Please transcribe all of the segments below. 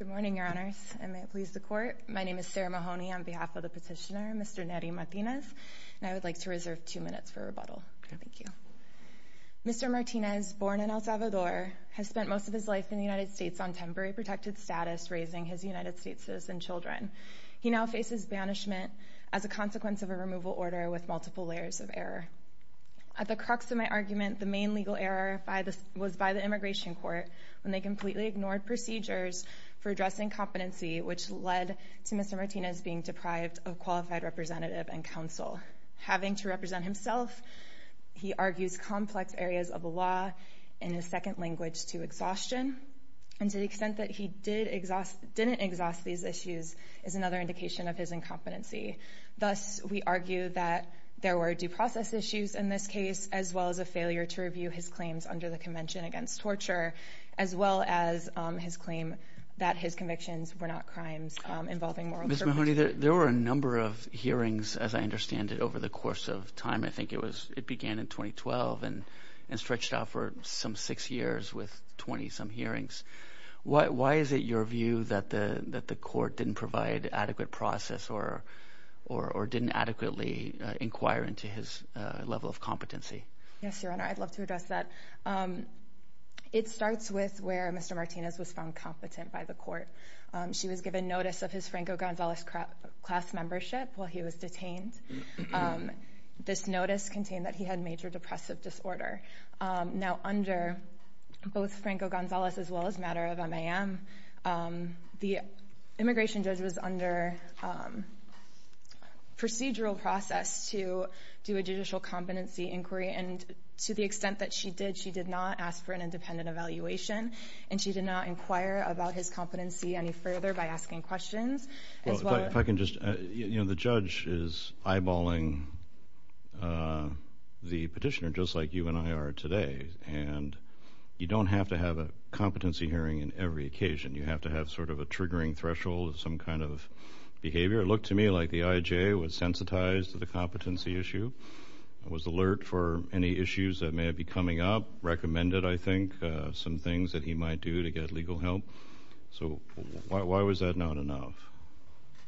Good morning, Your Honors, and may it please the Court, my name is Sarah Mahoney on behalf of the petitioner, Mr. Nery Martinez, and I would like to reserve two minutes for rebuttal. Thank you. Mr. Martinez, born in El Salvador, has spent most of his life in the United States on temporary protected status, raising his United States citizen children. He now faces banishment as a consequence of a removal order with multiple layers of error. At the crux of my argument, the main legal error was by the Immigration Court when they completely ignored procedures for addressing competency, which led to Mr. Martinez being deprived of qualified representative and counsel. Having to represent himself, he argues complex areas of the law in his second language to exhaustion, and to the extent that he didn't exhaust these issues is another indication of his incompetency. Thus, we argue that there were due process issues in this case, as well as a failure to review his claims under the Convention Against Torture, as well as his claim that his convictions were not crimes involving moral purposes. Mr. Mahoney, there were a number of hearings, as I understand it, over the course of time. I think it began in 2012 and stretched out for some six years with 20-some hearings. Why is it your view that the court didn't provide adequate process or didn't adequately inquire into his level of competency? Yes, Your Honor, I'd love to address that. It starts with where Mr. Martinez was found competent by the court. She was given notice of his Franco Gonzalez class membership while he was detained. This notice contained that he had major depressive disorder. Now, under both Franco Gonzalez as well as matter of MAM, the immigration judge was under procedural process to do a judicial competency inquiry, and to the extent that she did, she did not ask for an independent evaluation, and she did not inquire about his competency any further by asking questions, as well as— You know, the judge is eyeballing the petitioner just like you and I are today, and you don't have to have a competency hearing in every occasion. You have to have sort of a triggering threshold of some kind of behavior. It looked to me like the IJ was sensitized to the competency issue, was alert for any issues that may be coming up, recommended, I think, some things that he might do to get legal help. So why was that not enough?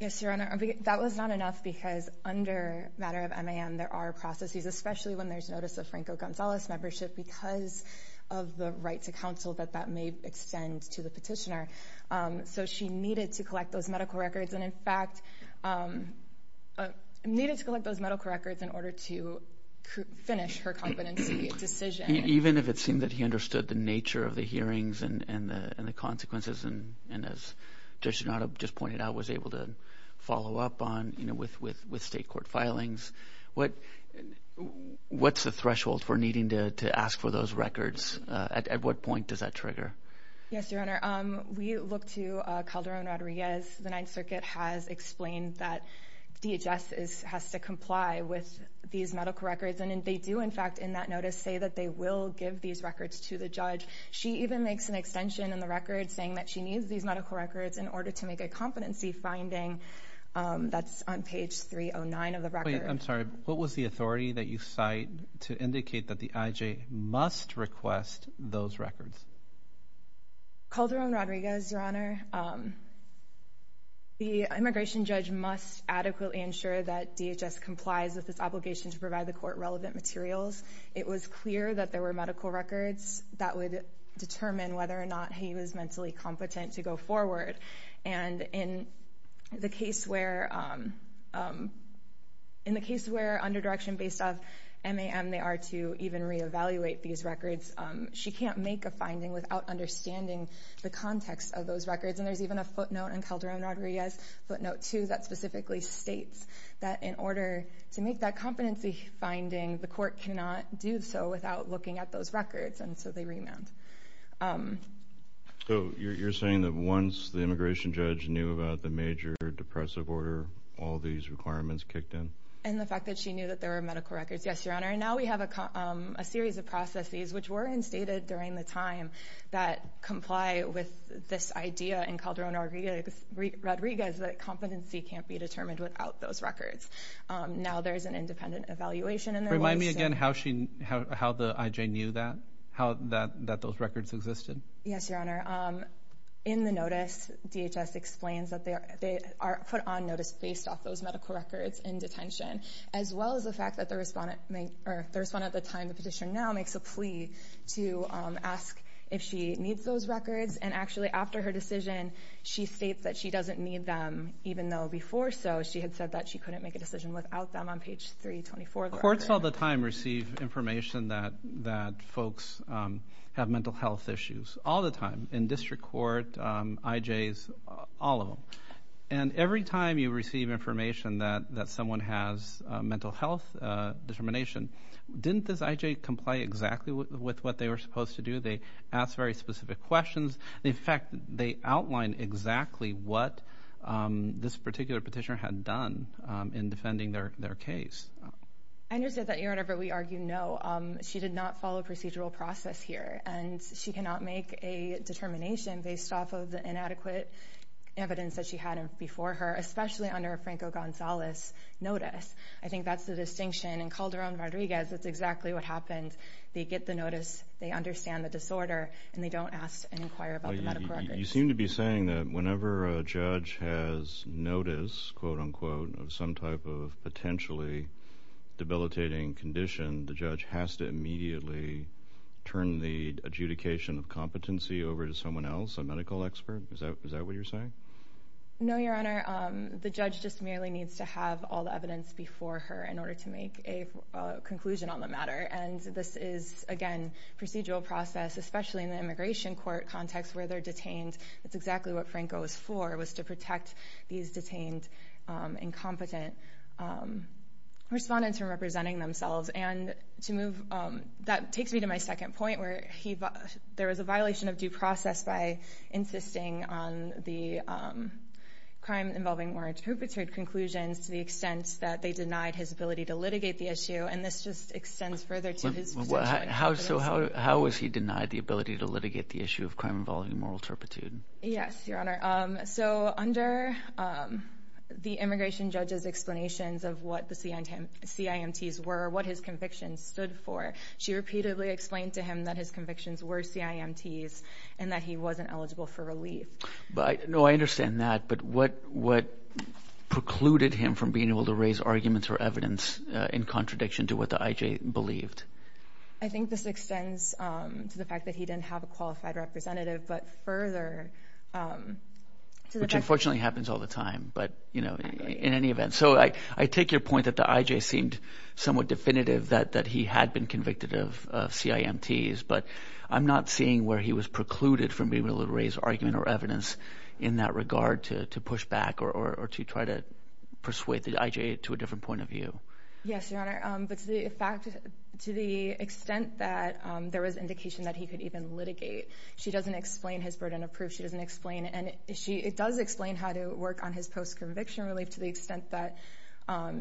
Yes, Your Honor, that was not enough because under matter of MAM there are processes, especially when there's notice of Franco Gonzalez membership because of the right to counsel that that may extend to the petitioner. So she needed to collect those medical records, and in fact, needed to collect those medical records in order to finish her competency decision. Even if it seemed that he understood the nature of the hearings and the consequences, and as Judge Donato just pointed out, was able to follow up on, you know, with state court filings, what's the threshold for needing to ask for those records? At what point does that trigger? Yes, Your Honor, we look to Calderon-Rodriguez. The Ninth Circuit has explained that DHS has to comply with these medical records, and they do, in fact, in that notice say that they will give these records to the judge. She even makes an extension in the record saying that she needs these medical records in order to make a competency finding. That's on page 309 of the record. Wait, I'm sorry. What was the authority that you cite to indicate that the IJ must request those records? Calderon-Rodriguez, Your Honor. The immigration judge must adequately ensure that DHS complies with its obligation to provide the court relevant materials. It was clear that there were medical records that would determine whether or not he was mentally competent to go forward, and in the case where under direction based of MAM they are to even reevaluate these records, she can't make a finding without understanding the context of those records, and there's even a footnote in Calderon-Rodriguez, footnote two that specifically states that in order to make that competency finding, the court cannot do so without looking at those records, and so they remand. So you're saying that once the immigration judge knew about the major depressive order, all these requirements kicked in? And the fact that she knew that there were medical records, yes, Your Honor, and now we have a series of processes which were instated during the time that comply with this idea in Calderon-Rodriguez that competency can't be determined without those records. Now there's an independent evaluation in their ways. Remind me again how the IJ knew that, that those records existed? Yes, Your Honor. In the notice, DHS explains that they are put on notice based off those medical records in detention, as well as the fact that the respondent at the time of petition now makes a plea to ask if she needs those records, and actually after her decision, she states that she doesn't need them, even though before so, she had said that she couldn't make a decision without them on page 324 of the record. Courts all the time receive information that folks have mental health issues, all the time, in district court, IJs, all of them. And every time you receive information that someone has mental health determination, didn't the IJ comply exactly with what they were supposed to do? They asked very specific questions, in fact, they outlined exactly what this particular petitioner had done in defending their case. I understand that, Your Honor, but we argue no. She did not follow procedural process here, and she cannot make a determination based off of the inadequate evidence that she had before her, especially under a Franco-Gonzalez notice. I think that's the distinction, and Calderon-Rodriguez, that's exactly what happened. They get the notice, they understand the disorder, and they don't ask and inquire about the medical records. You seem to be saying that whenever a judge has notice, quote-unquote, of some type of potentially debilitating condition, the judge has to immediately turn the adjudication of competency over to someone else, a medical expert, is that what you're saying? No, Your Honor. The judge just merely needs to have all the evidence before her in order to make a conclusion on the matter, and this is, again, procedural process, especially in the immigration court context where they're detained. It's exactly what Franco was for, was to protect these detained incompetent respondents from representing themselves. That takes me to my second point, where there was a violation of due process by insisting on the crime-involving moral turpitude conclusions to the extent that they denied his ability to litigate the issue, and this just extends further to his potential... How was he denied the ability to litigate the issue of crime-involving moral turpitude? Yes, Your Honor. So under the immigration judge's explanations of what the CIMTs were, what his convictions stood for, she repeatedly explained to him that his convictions were CIMTs and that he No, I understand that, but what precluded him from being able to raise arguments or evidence in contradiction to what the IJ believed? I think this extends to the fact that he didn't have a qualified representative, but further... Which unfortunately happens all the time, but, you know, in any event. So I take your point that the IJ seemed somewhat definitive that he had been convicted of CIMTs, but I'm not seeing where he was precluded from being able to raise argument or evidence in that regard to push back or to try to persuade the IJ to a different point of view. Yes, Your Honor, but to the extent that there was indication that he could even litigate, she doesn't explain his burden of proof, she doesn't explain any... It does explain how to work on his post-conviction relief to the extent that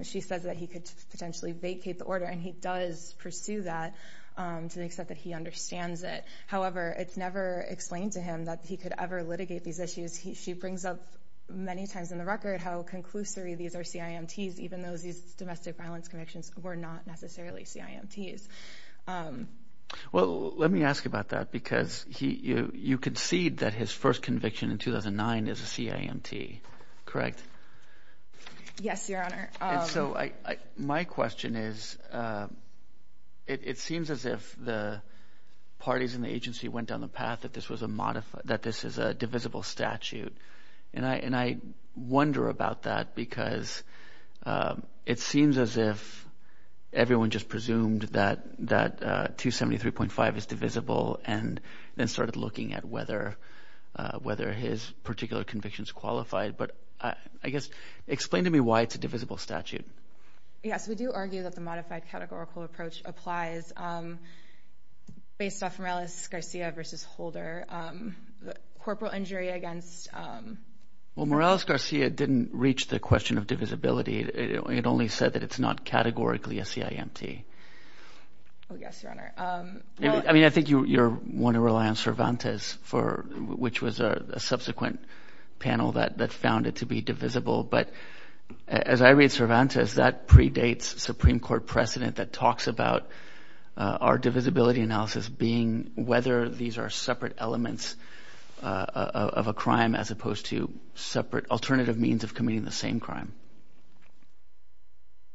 she says that he could potentially vacate the order, and he does pursue that to the extent that he understands it. However, it's never explained to him that he could ever litigate these issues. She brings up many times in the record how conclusory these are CIMTs, even though these domestic violence convictions were not necessarily CIMTs. Well, let me ask you about that, because you concede that his first conviction in 2009 is a CIMT, correct? Yes, Your Honor. And so my question is, it seems as if the parties in the agency went down the path that this is a divisible statute, and I wonder about that because it seems as if everyone just presumed that 273.5 is divisible and then started looking at whether his particular conviction is qualified, but I guess, explain to me why it's a divisible statute. Yes, we do argue that the modified categorical approach applies based off Morales-Garcia versus Holder, the corporal injury against... Well, Morales-Garcia didn't reach the question of divisibility, it only said that it's not categorically a CIMT. Oh, yes, Your Honor. I mean, I think you're one to rely on Cervantes, which was a subsequent panel that found it to be divisible, but as I read Cervantes, that predates Supreme Court precedent that talks about our divisibility analysis being whether these are separate elements of a crime as opposed to separate alternative means of committing the same crime.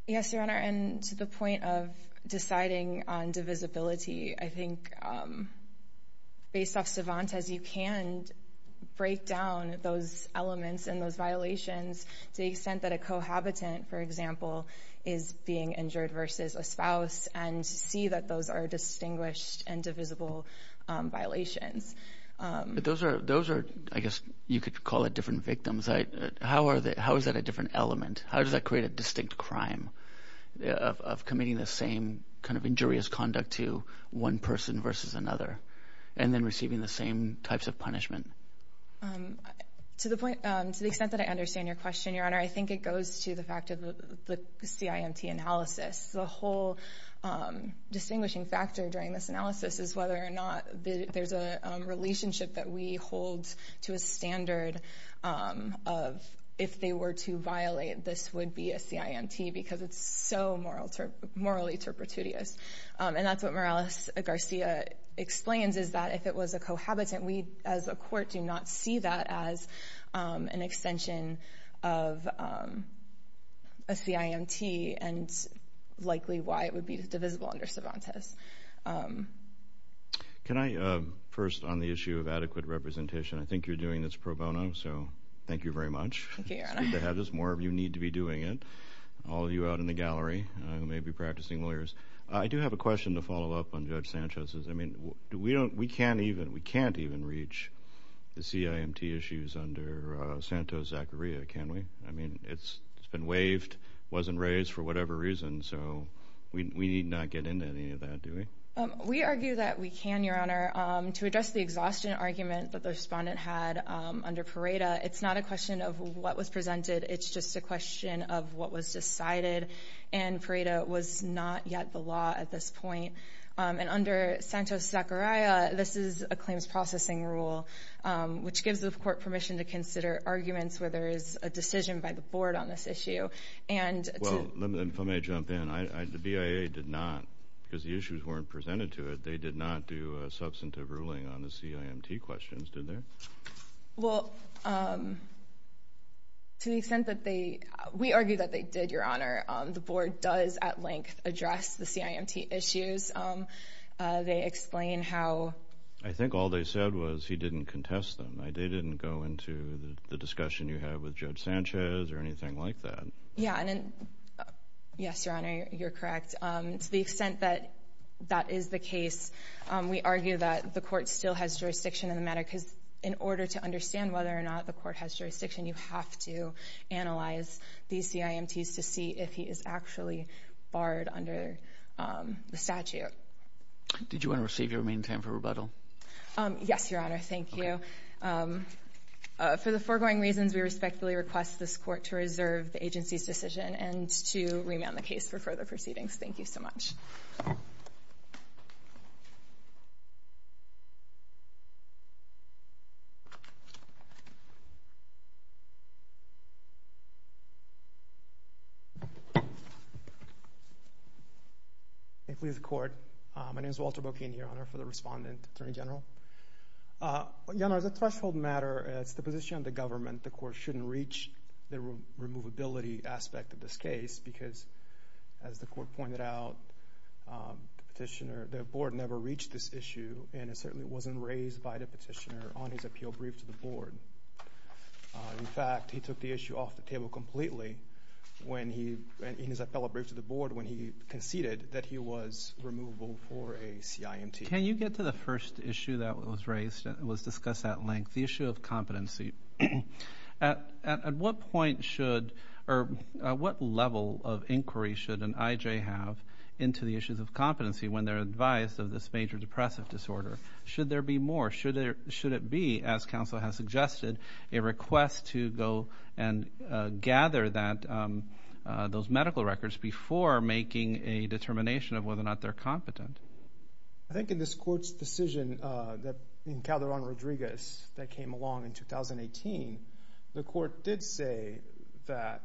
Yes, Your Honor, and to the point of deciding on divisibility, I think based off Cervantes, you can break down those elements and those violations to the extent that a cohabitant, for example, is being injured versus a spouse and see that those are distinguished and divisible violations. Those are, I guess, you could call it different victims. How is that a different element? How does that create a distinct crime of committing the same injurious conduct to one person versus another and then receiving the same types of punishment? To the extent that I understand your question, Your Honor, I think it goes to the fact of the CIMT analysis. The whole distinguishing factor during this analysis is whether or not there's a relationship that we hold to a standard of if they were to violate, this would be a CIMT because it's so morally turpitudious. And that's what Morales-Garcia explains is that if it was a cohabitant, we as a court do not see that as an extension of a CIMT and likely why it would be divisible under Cervantes. Can I, first on the issue of adequate representation, I think you're doing this pro bono, so thank you very much. Thank you, Your Honor. It's good to have this. More of you need to be doing it. All of you out in the gallery who may be practicing lawyers. I do have a question to follow up on Judge Sanchez's. I mean, we can't even reach the CIMT issues under Santos-Zacharia, can we? I mean, it's been waived, wasn't raised for whatever reason, so we need not get into any of that, do we? We argue that we can, Your Honor. To address the exhaustion argument that the respondent had under Pareda, it's not a question of what was presented, it's just a question of what was decided. And Pareda was not yet the law at this point. And under Santos-Zacharia, this is a claims processing rule, which gives the court permission to consider arguments where there is a decision by the board on this issue. Well, let me jump in. The BIA did not, because the issues weren't presented to it, they did not do a substantive ruling on the CIMT questions, did they? Well, to the extent that they, we argue that they did, Your Honor. The board does at length address the CIMT issues. They explain how... I think all they said was he didn't contest them. They didn't go into the discussion you had with Judge Sanchez or anything like that. Yeah, and then, yes, Your Honor, you're correct. To the extent that that is the case, we argue that the court still has jurisdiction in the matter, because in order to understand whether or not the court has jurisdiction, you have to analyze these CIMTs to see if he is actually barred under the statute. Did you want to receive your remaining time for rebuttal? Yes, Your Honor. Thank you. Okay. For the foregoing reasons, we respectfully request this court to reserve the agency's decision and to remand the case for further proceedings. Thank you so much. May it please the court. My name is Walter Bocchini, Your Honor, for the respondent, Attorney General. Your Honor, as a threshold matter, as the position of the government, the court shouldn't reach the removability aspect of this case, because as the court pointed out, the petitioner, the board never reached this issue, and it certainly wasn't raised by the petitioner on his appeal brief to the board. In fact, he took the issue off the table completely in his appellate brief to the board when he conceded that he was removable for a CIMT. Can you get to the first issue that was discussed at length, the issue of competency? At what point should, or what level of inquiry should an IJ have into the issues of competency when they're advised of this major depressive disorder? Should there be more? Should it be, as counsel has suggested, a request to go and gather those medical records before making a determination of whether or not they're competent? I think in this court's decision, in Calderon-Rodriguez, that came along in 2018, the court did say that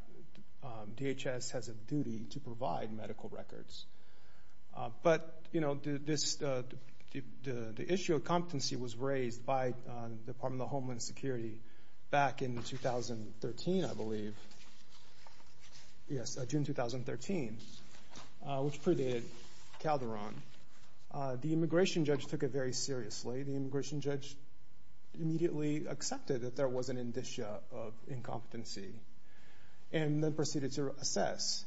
DHS has a duty to provide medical records, but, you know, the issue of competency was raised by the Department of Homeland Security back in 2013, I believe, yes, June 2013, which mandated Calderon. The immigration judge took it very seriously. The immigration judge immediately accepted that there was an indicia of incompetency and then proceeded to assess.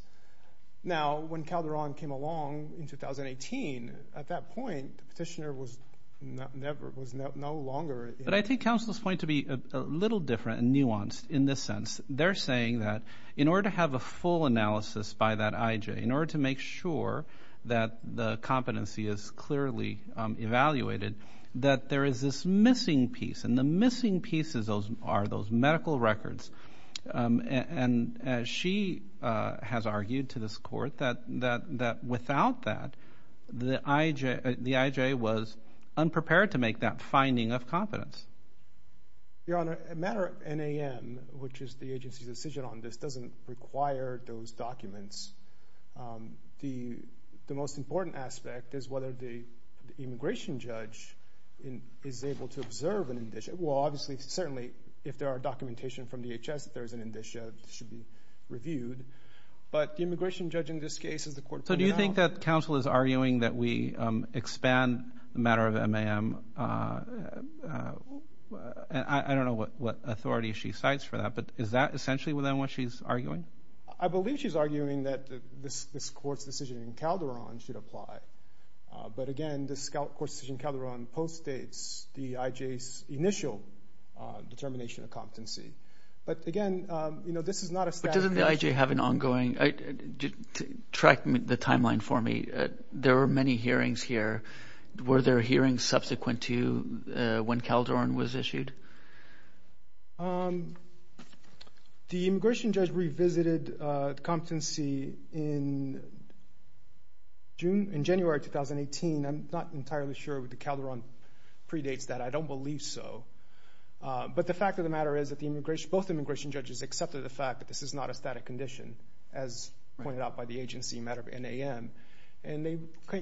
Now, when Calderon came along in 2018, at that point, the petitioner was no longer- But I think counsel's point to be a little different and nuanced in this sense. They're saying that in order to have a full analysis by that IJ, in order to make sure that the competency is clearly evaluated, that there is this missing piece, and the missing pieces are those medical records. And she has argued to this court that without that, the IJ was unprepared to make that finding of competence. Your Honor, a matter of NAM, which is the agency's decision on this, doesn't require those documents. The most important aspect is whether the immigration judge is able to observe an indicia. Well, obviously, certainly, if there are documentation from DHS that there is an indicia, it should be reviewed. But the immigration judge in this case, as the court pointed out- I don't know what authority she cites for that, but is that essentially, then, what she's arguing? I believe she's arguing that this court's decision in Calderon should apply. But again, this court's decision in Calderon post-dates the IJ's initial determination of competency. But, again, this is not a- But doesn't the IJ have an ongoing- track the timeline for me. There were many hearings here. Were there hearings subsequent to when Calderon was issued? The immigration judge revisited competency in January 2018. I'm not entirely sure if the Calderon predates that. I don't believe so. But the fact of the matter is that both immigration judges accepted the fact that this is not a static condition, as pointed out by the agency, a matter of NAM. And they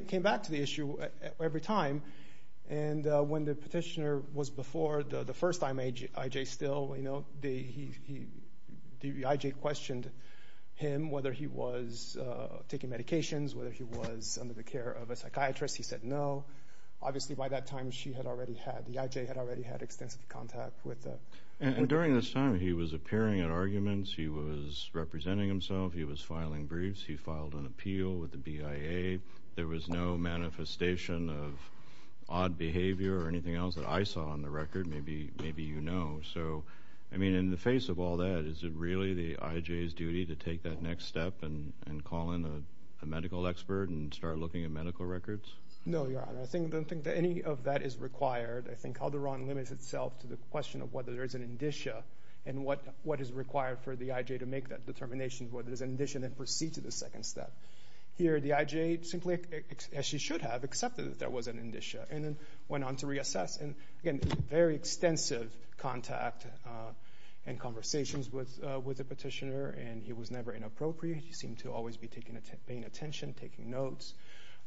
came back to the issue every time. And when the petitioner was before, the first time IJ still, you know, the IJ questioned him whether he was taking medications, whether he was under the care of a psychiatrist. He said no. Obviously, by that time, she had already had- the IJ had already had extensive contact with the- And during this time, he was appearing at arguments. He was representing himself. He was filing briefs. He filed an appeal with the BIA. There was no manifestation of odd behavior or anything else that I saw on the record. Maybe you know. So, I mean, in the face of all that, is it really the IJ's duty to take that next step and call in a medical expert and start looking at medical records? No, Your Honor. I don't think that any of that is required. I think Calderon limits itself to the question of whether there is an indicia and what is required for the IJ to make that determination. Whether there's an indicia that precedes the second step. Here, the IJ, simply as she should have, accepted that there was an indicia and then went on to reassess. And again, very extensive contact and conversations with the petitioner. And he was never inappropriate. He seemed to always be taking- paying attention, taking notes,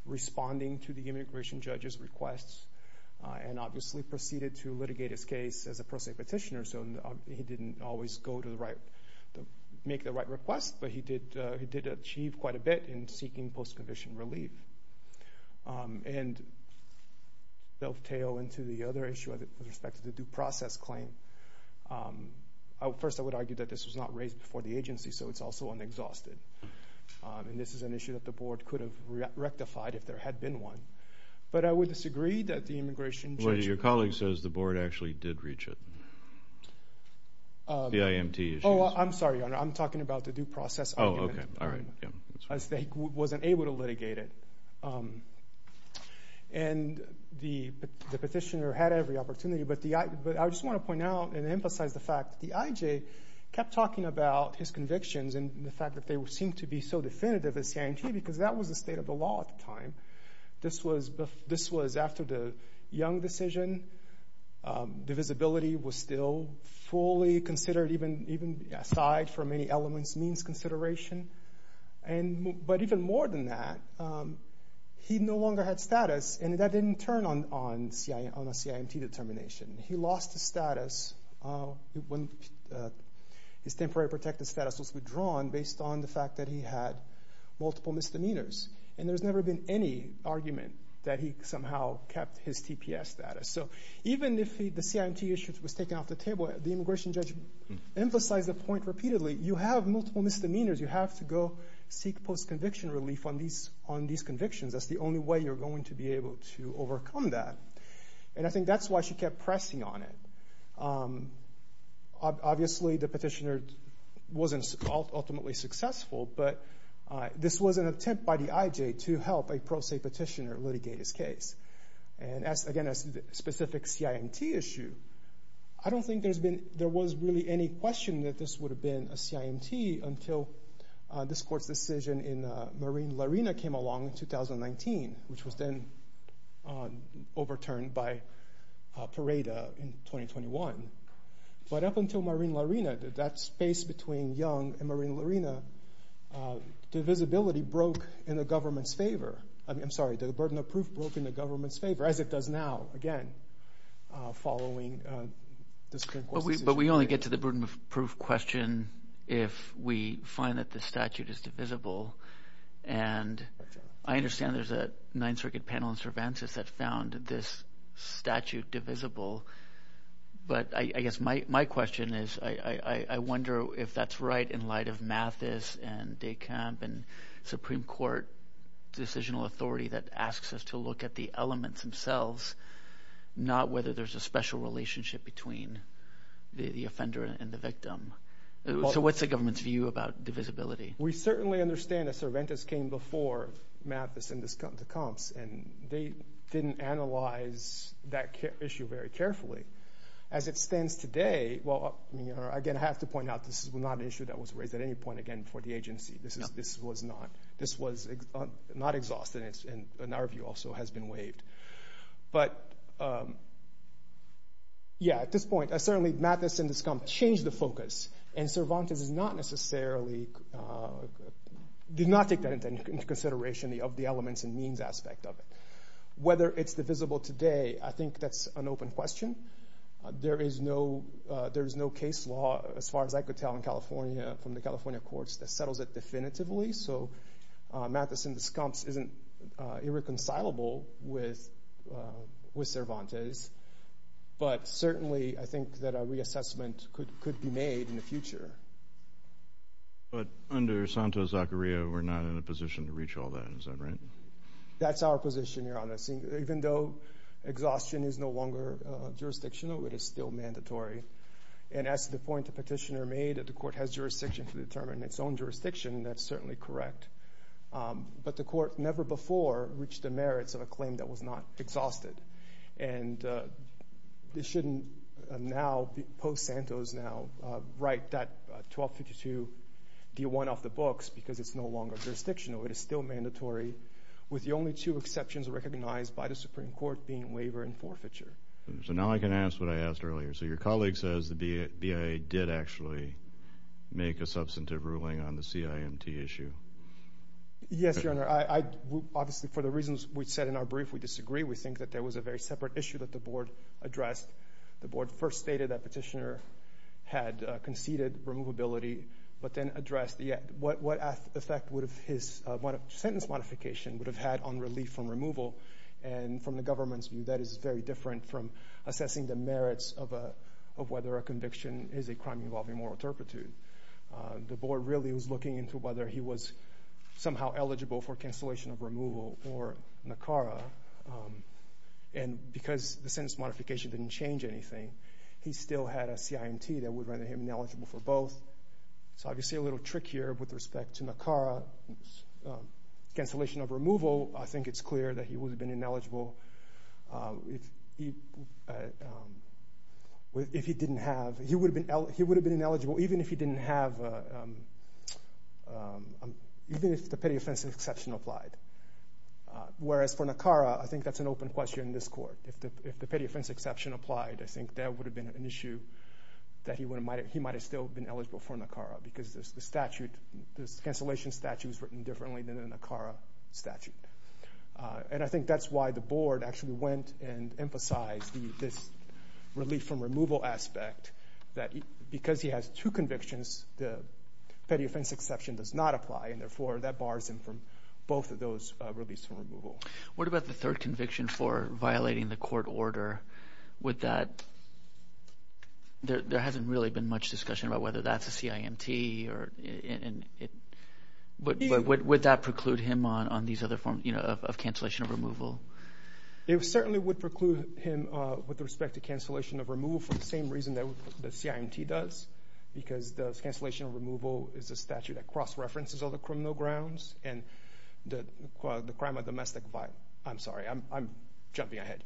responding to the immigration judge's requests, and obviously proceeded to litigate his case as a pro se petitioner. So, he didn't always go to the right- make the right request, but he did achieve quite a bit in seeking post-conviction relief. And they'll tail into the other issue with respect to the due process claim. First I would argue that this was not raised before the agency, so it's also unexhausted. And this is an issue that the board could have rectified if there had been one. But I would disagree that the immigration judge- The IMT issue. Oh, I'm sorry, Your Honor. I'm talking about the due process argument. Oh, okay. All right. Yeah. I was able to litigate it. And the petitioner had every opportunity, but I just want to point out and emphasize the fact that the IJ kept talking about his convictions and the fact that they seemed to be so definitive as guarantee, because that was the state of the law at the time. This was after the Young decision. The visibility was still fully considered, even aside from any elements, means consideration. But even more than that, he no longer had status, and that didn't turn on a CIMT determination. He lost his status when his temporary protected status was withdrawn based on the fact that he had multiple misdemeanors. And there's never been any argument that he somehow kept his TPS status. So even if the CIMT issue was taken off the table, the immigration judge emphasized the point repeatedly. You have multiple misdemeanors. You have to go seek post-conviction relief on these convictions. That's the only way you're going to be able to overcome that. And I think that's why she kept pressing on it. Obviously, the petitioner wasn't ultimately successful. But this was an attempt by the IJ to help a pro se petitioner litigate his case. And again, as to the specific CIMT issue, I don't think there was really any question that this would have been a CIMT until this court's decision in Marine Larina came along in 2019, which was then overturned by Pareda in 2021. But up until Marine Larina, that space between Young and Marine Larina, divisibility broke in the government's favor. I'm sorry, the burden of proof broke in the government's favor, as it does now, again, following this current court decision. But we only get to the burden of proof question if we find that the statute is divisible. And I understand there's a Ninth Circuit panel in Cervantes that found this statute divisible. But I guess my question is, I wonder if that's right in light of Mathis and De Camp and Supreme Court decisional authority that asks us to look at the elements themselves, not whether there's a special relationship between the offender and the victim. So what's the government's view about divisibility? We certainly understand that Cervantes came before Mathis and De Camp, and they didn't analyze that issue very carefully. As it stands today, well, again, I have to point out this is not an issue that was raised at any point, again, before the agency. This was not exhausted, and our view also has been waived. But yeah, at this point, certainly Mathis and De Camp changed the focus, and Cervantes is not necessarily, did not take that into consideration of the elements and means aspect of it. Whether it's divisible today, I think that's an open question. There is no case law, as far as I could tell in California, from the California courts that settles it definitively. So Mathis and De Camp isn't irreconcilable with Cervantes. But certainly, I think that a reassessment could be made in the future. But under Santos-Zacaria, we're not in a position to reach all that, is that right? That's our position, Your Honor. Even though exhaustion is no longer jurisdictional, it is still mandatory. And as to the point the petitioner made, that the court has jurisdiction to determine its own jurisdiction, that's certainly correct. But the court never before reached the merits of a claim that was not exhausted. And they shouldn't now, post-Santos now, write that 1252-D1 off the books because it's no longer jurisdictional. It is still mandatory, with the only two exceptions recognized by the Supreme Court being waiver and forfeiture. So now I can ask what I asked earlier. So your colleague says the BIA did actually make a substantive ruling on the CIMT issue. Yes, Your Honor. For the reasons we said in our brief, we disagree. We think that there was a very separate issue that the board addressed. The board first stated that petitioner had conceded removability, but then addressed what effect his sentence modification would have had on relief from removal. And from the government's view, that is very different from assessing the merits of whether a conviction is a crime involving moral turpitude. The board really was looking into whether he was somehow eligible for cancellation of removal or NACARA. And because the sentence modification didn't change anything, he still had a CIMT that would render him ineligible for both. So obviously a little trickier with respect to NACARA cancellation of removal, I think it's clear that he would have been ineligible if he didn't have, he would have been ineligible even if he didn't have, even if the petty offense exception applied. Whereas for NACARA, I think that's an open question in this court. If the petty offense exception applied, I think that would have been an issue that he might have still been eligible for NACARA because the statute, this cancellation statute is written differently than a NACARA statute. And I think that's why the board actually went and emphasized this relief from removal aspect that because he has two convictions, the petty offense exception does not apply and therefore that bars him from both of those reliefs from removal. What about the third conviction for violating the court order? Would that, there hasn't really been much discussion about whether that's a CIMT or would that preclude him on these other forms of cancellation of removal? It certainly would preclude him with respect to cancellation of removal for the same reason that the CIMT does because the cancellation of removal is a statute that cross-references other criminal grounds and the crime of domestic, I'm sorry, I'm jumping ahead.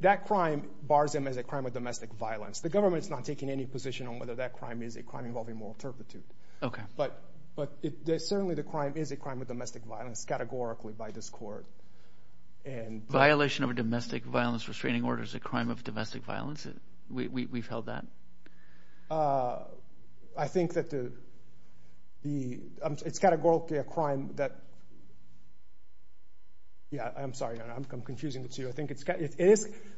That crime bars him as a crime of domestic violence. The government is not taking any position on whether that crime is a crime involving moral turpitude. But certainly the crime is a crime of domestic violence categorically by this court. Violation of a domestic violence restraining order is a crime of domestic violence? We've held that? I think that the, it's categorically a crime that, yeah, I'm sorry, I'm confusing the two. I think it's,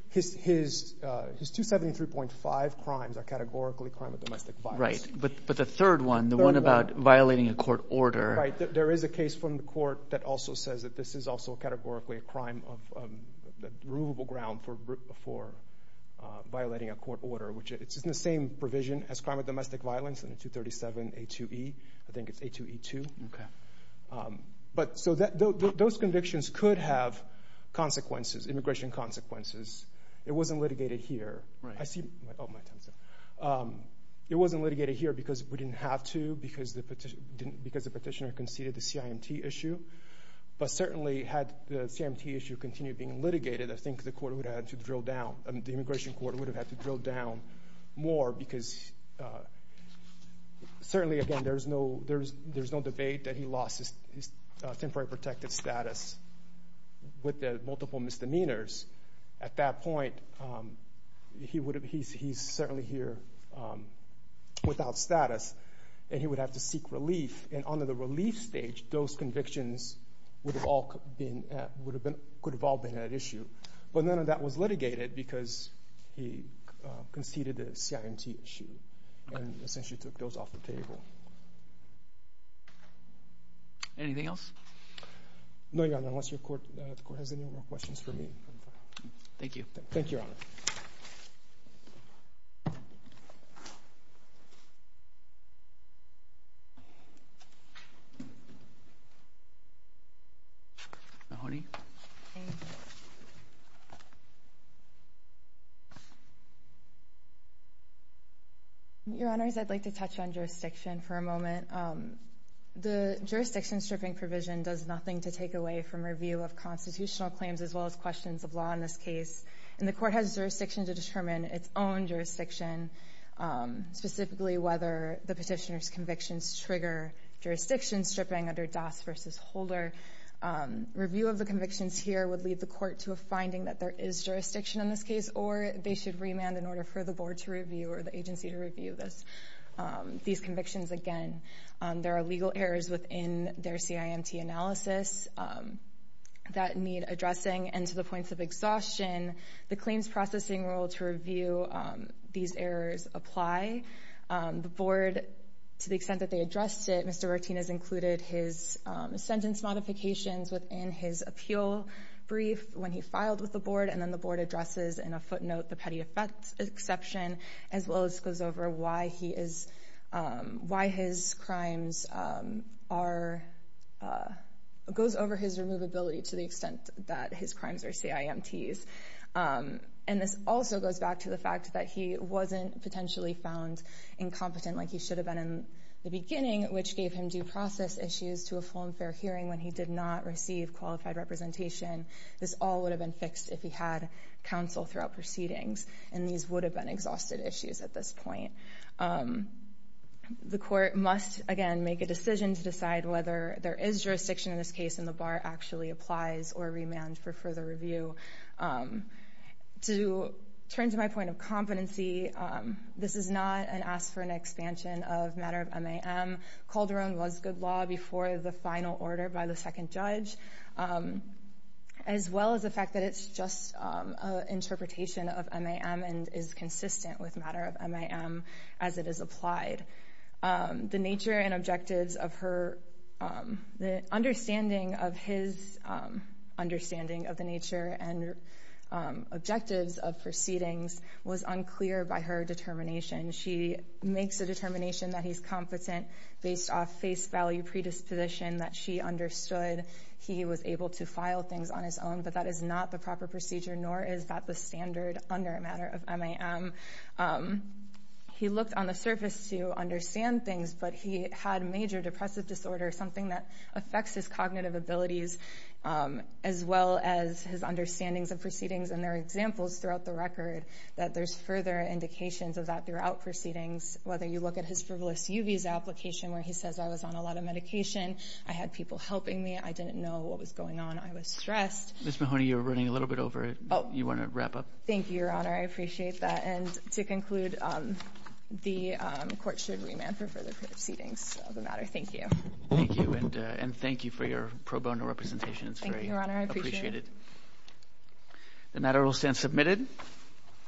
his 273.5 crimes are categorically a crime of domestic violence. Right, but the third one, the one about violating a court order. There is a case from the court that also says that this is also categorically a crime of the removable ground for violating a court order, which it's in the same provision as crime of domestic violence in the 237A2E, I think it's A2E2. But so those convictions could have consequences, immigration consequences. It wasn't litigated here. Right. I see, oh, my time's up. It wasn't litigated here because we didn't have to, because the petitioner conceded the being litigated, I think the immigration court would have had to drill down more because certainly, again, there's no debate that he lost his temporary protected status with the multiple misdemeanors. At that point, he's certainly here without status, and he would have to seek relief. And under the relief stage, those convictions could have all been at issue. But none of that was litigated because he conceded the CIMT issue and essentially took those off the table. Anything else? No, Your Honor, unless the court has any more questions for me. Thank you. Mahoney? Your Honors, I'd like to touch on jurisdiction for a moment. The jurisdiction stripping provision does nothing to take away from review of constitutional claims as well as questions of law in this case, and the court has jurisdiction to determine its own jurisdiction, specifically whether the petitioner's convictions trigger jurisdiction stripping under Doss v. Holder. Review of the convictions here would lead the court to a finding that there is jurisdiction in this case, or they should remand in order for the board to review or the agency to review these convictions. Again, there are legal errors within their CIMT analysis that need addressing, and to the point of exhaustion, the claims processing rule to review these errors apply. The board, to the extent that they addressed it, Mr. Martinez included his sentence modifications within his appeal brief when he filed with the board, and then the board addresses in a footnote the petty offense exception, as well as goes over why his crimes are—goes over his removability to the extent that his crimes are CIMTs. And this also goes back to the fact that he wasn't potentially found incompetent like he should have been in the beginning, which gave him due process issues to a full and fair hearing when he did not receive qualified representation. This all would have been fixed if he had counsel throughout proceedings, and these would have been exhausted issues at this point. The court must, again, make a decision to decide whether there is jurisdiction in this case, whether the bar actually applies or remands for further review. To turn to my point of competency, this is not an ask for an expansion of matter of MAM. Calderon was good law before the final order by the second judge, as well as the fact that it's just an interpretation of MAM and is consistent with matter of MAM as it is applied. The nature and objectives of her—the understanding of his understanding of the nature and objectives of proceedings was unclear by her determination. She makes a determination that he's competent based off face value predisposition that she understood. He was able to file things on his own, but that is not the proper procedure, nor is that the standard under matter of MAM. He looked on the surface to understand things, but he had major depressive disorder, something that affects his cognitive abilities, as well as his understandings of proceedings and their examples throughout the record, that there's further indications of that throughout proceedings, whether you look at his frivolous UV's application where he says, I was on a lot of medication, I had people helping me, I didn't know what was going on, I was stressed. Ms. Mahoney, you're running a little bit over. You want to wrap up? Thank you, Your Honor. I appreciate that. And to conclude, the court should remand for further proceedings of the matter. Thank you. Thank you. And thank you for your pro bono representation. It's very appreciated. Thank you, Your Honor. I appreciate it. The matter will stand submitted.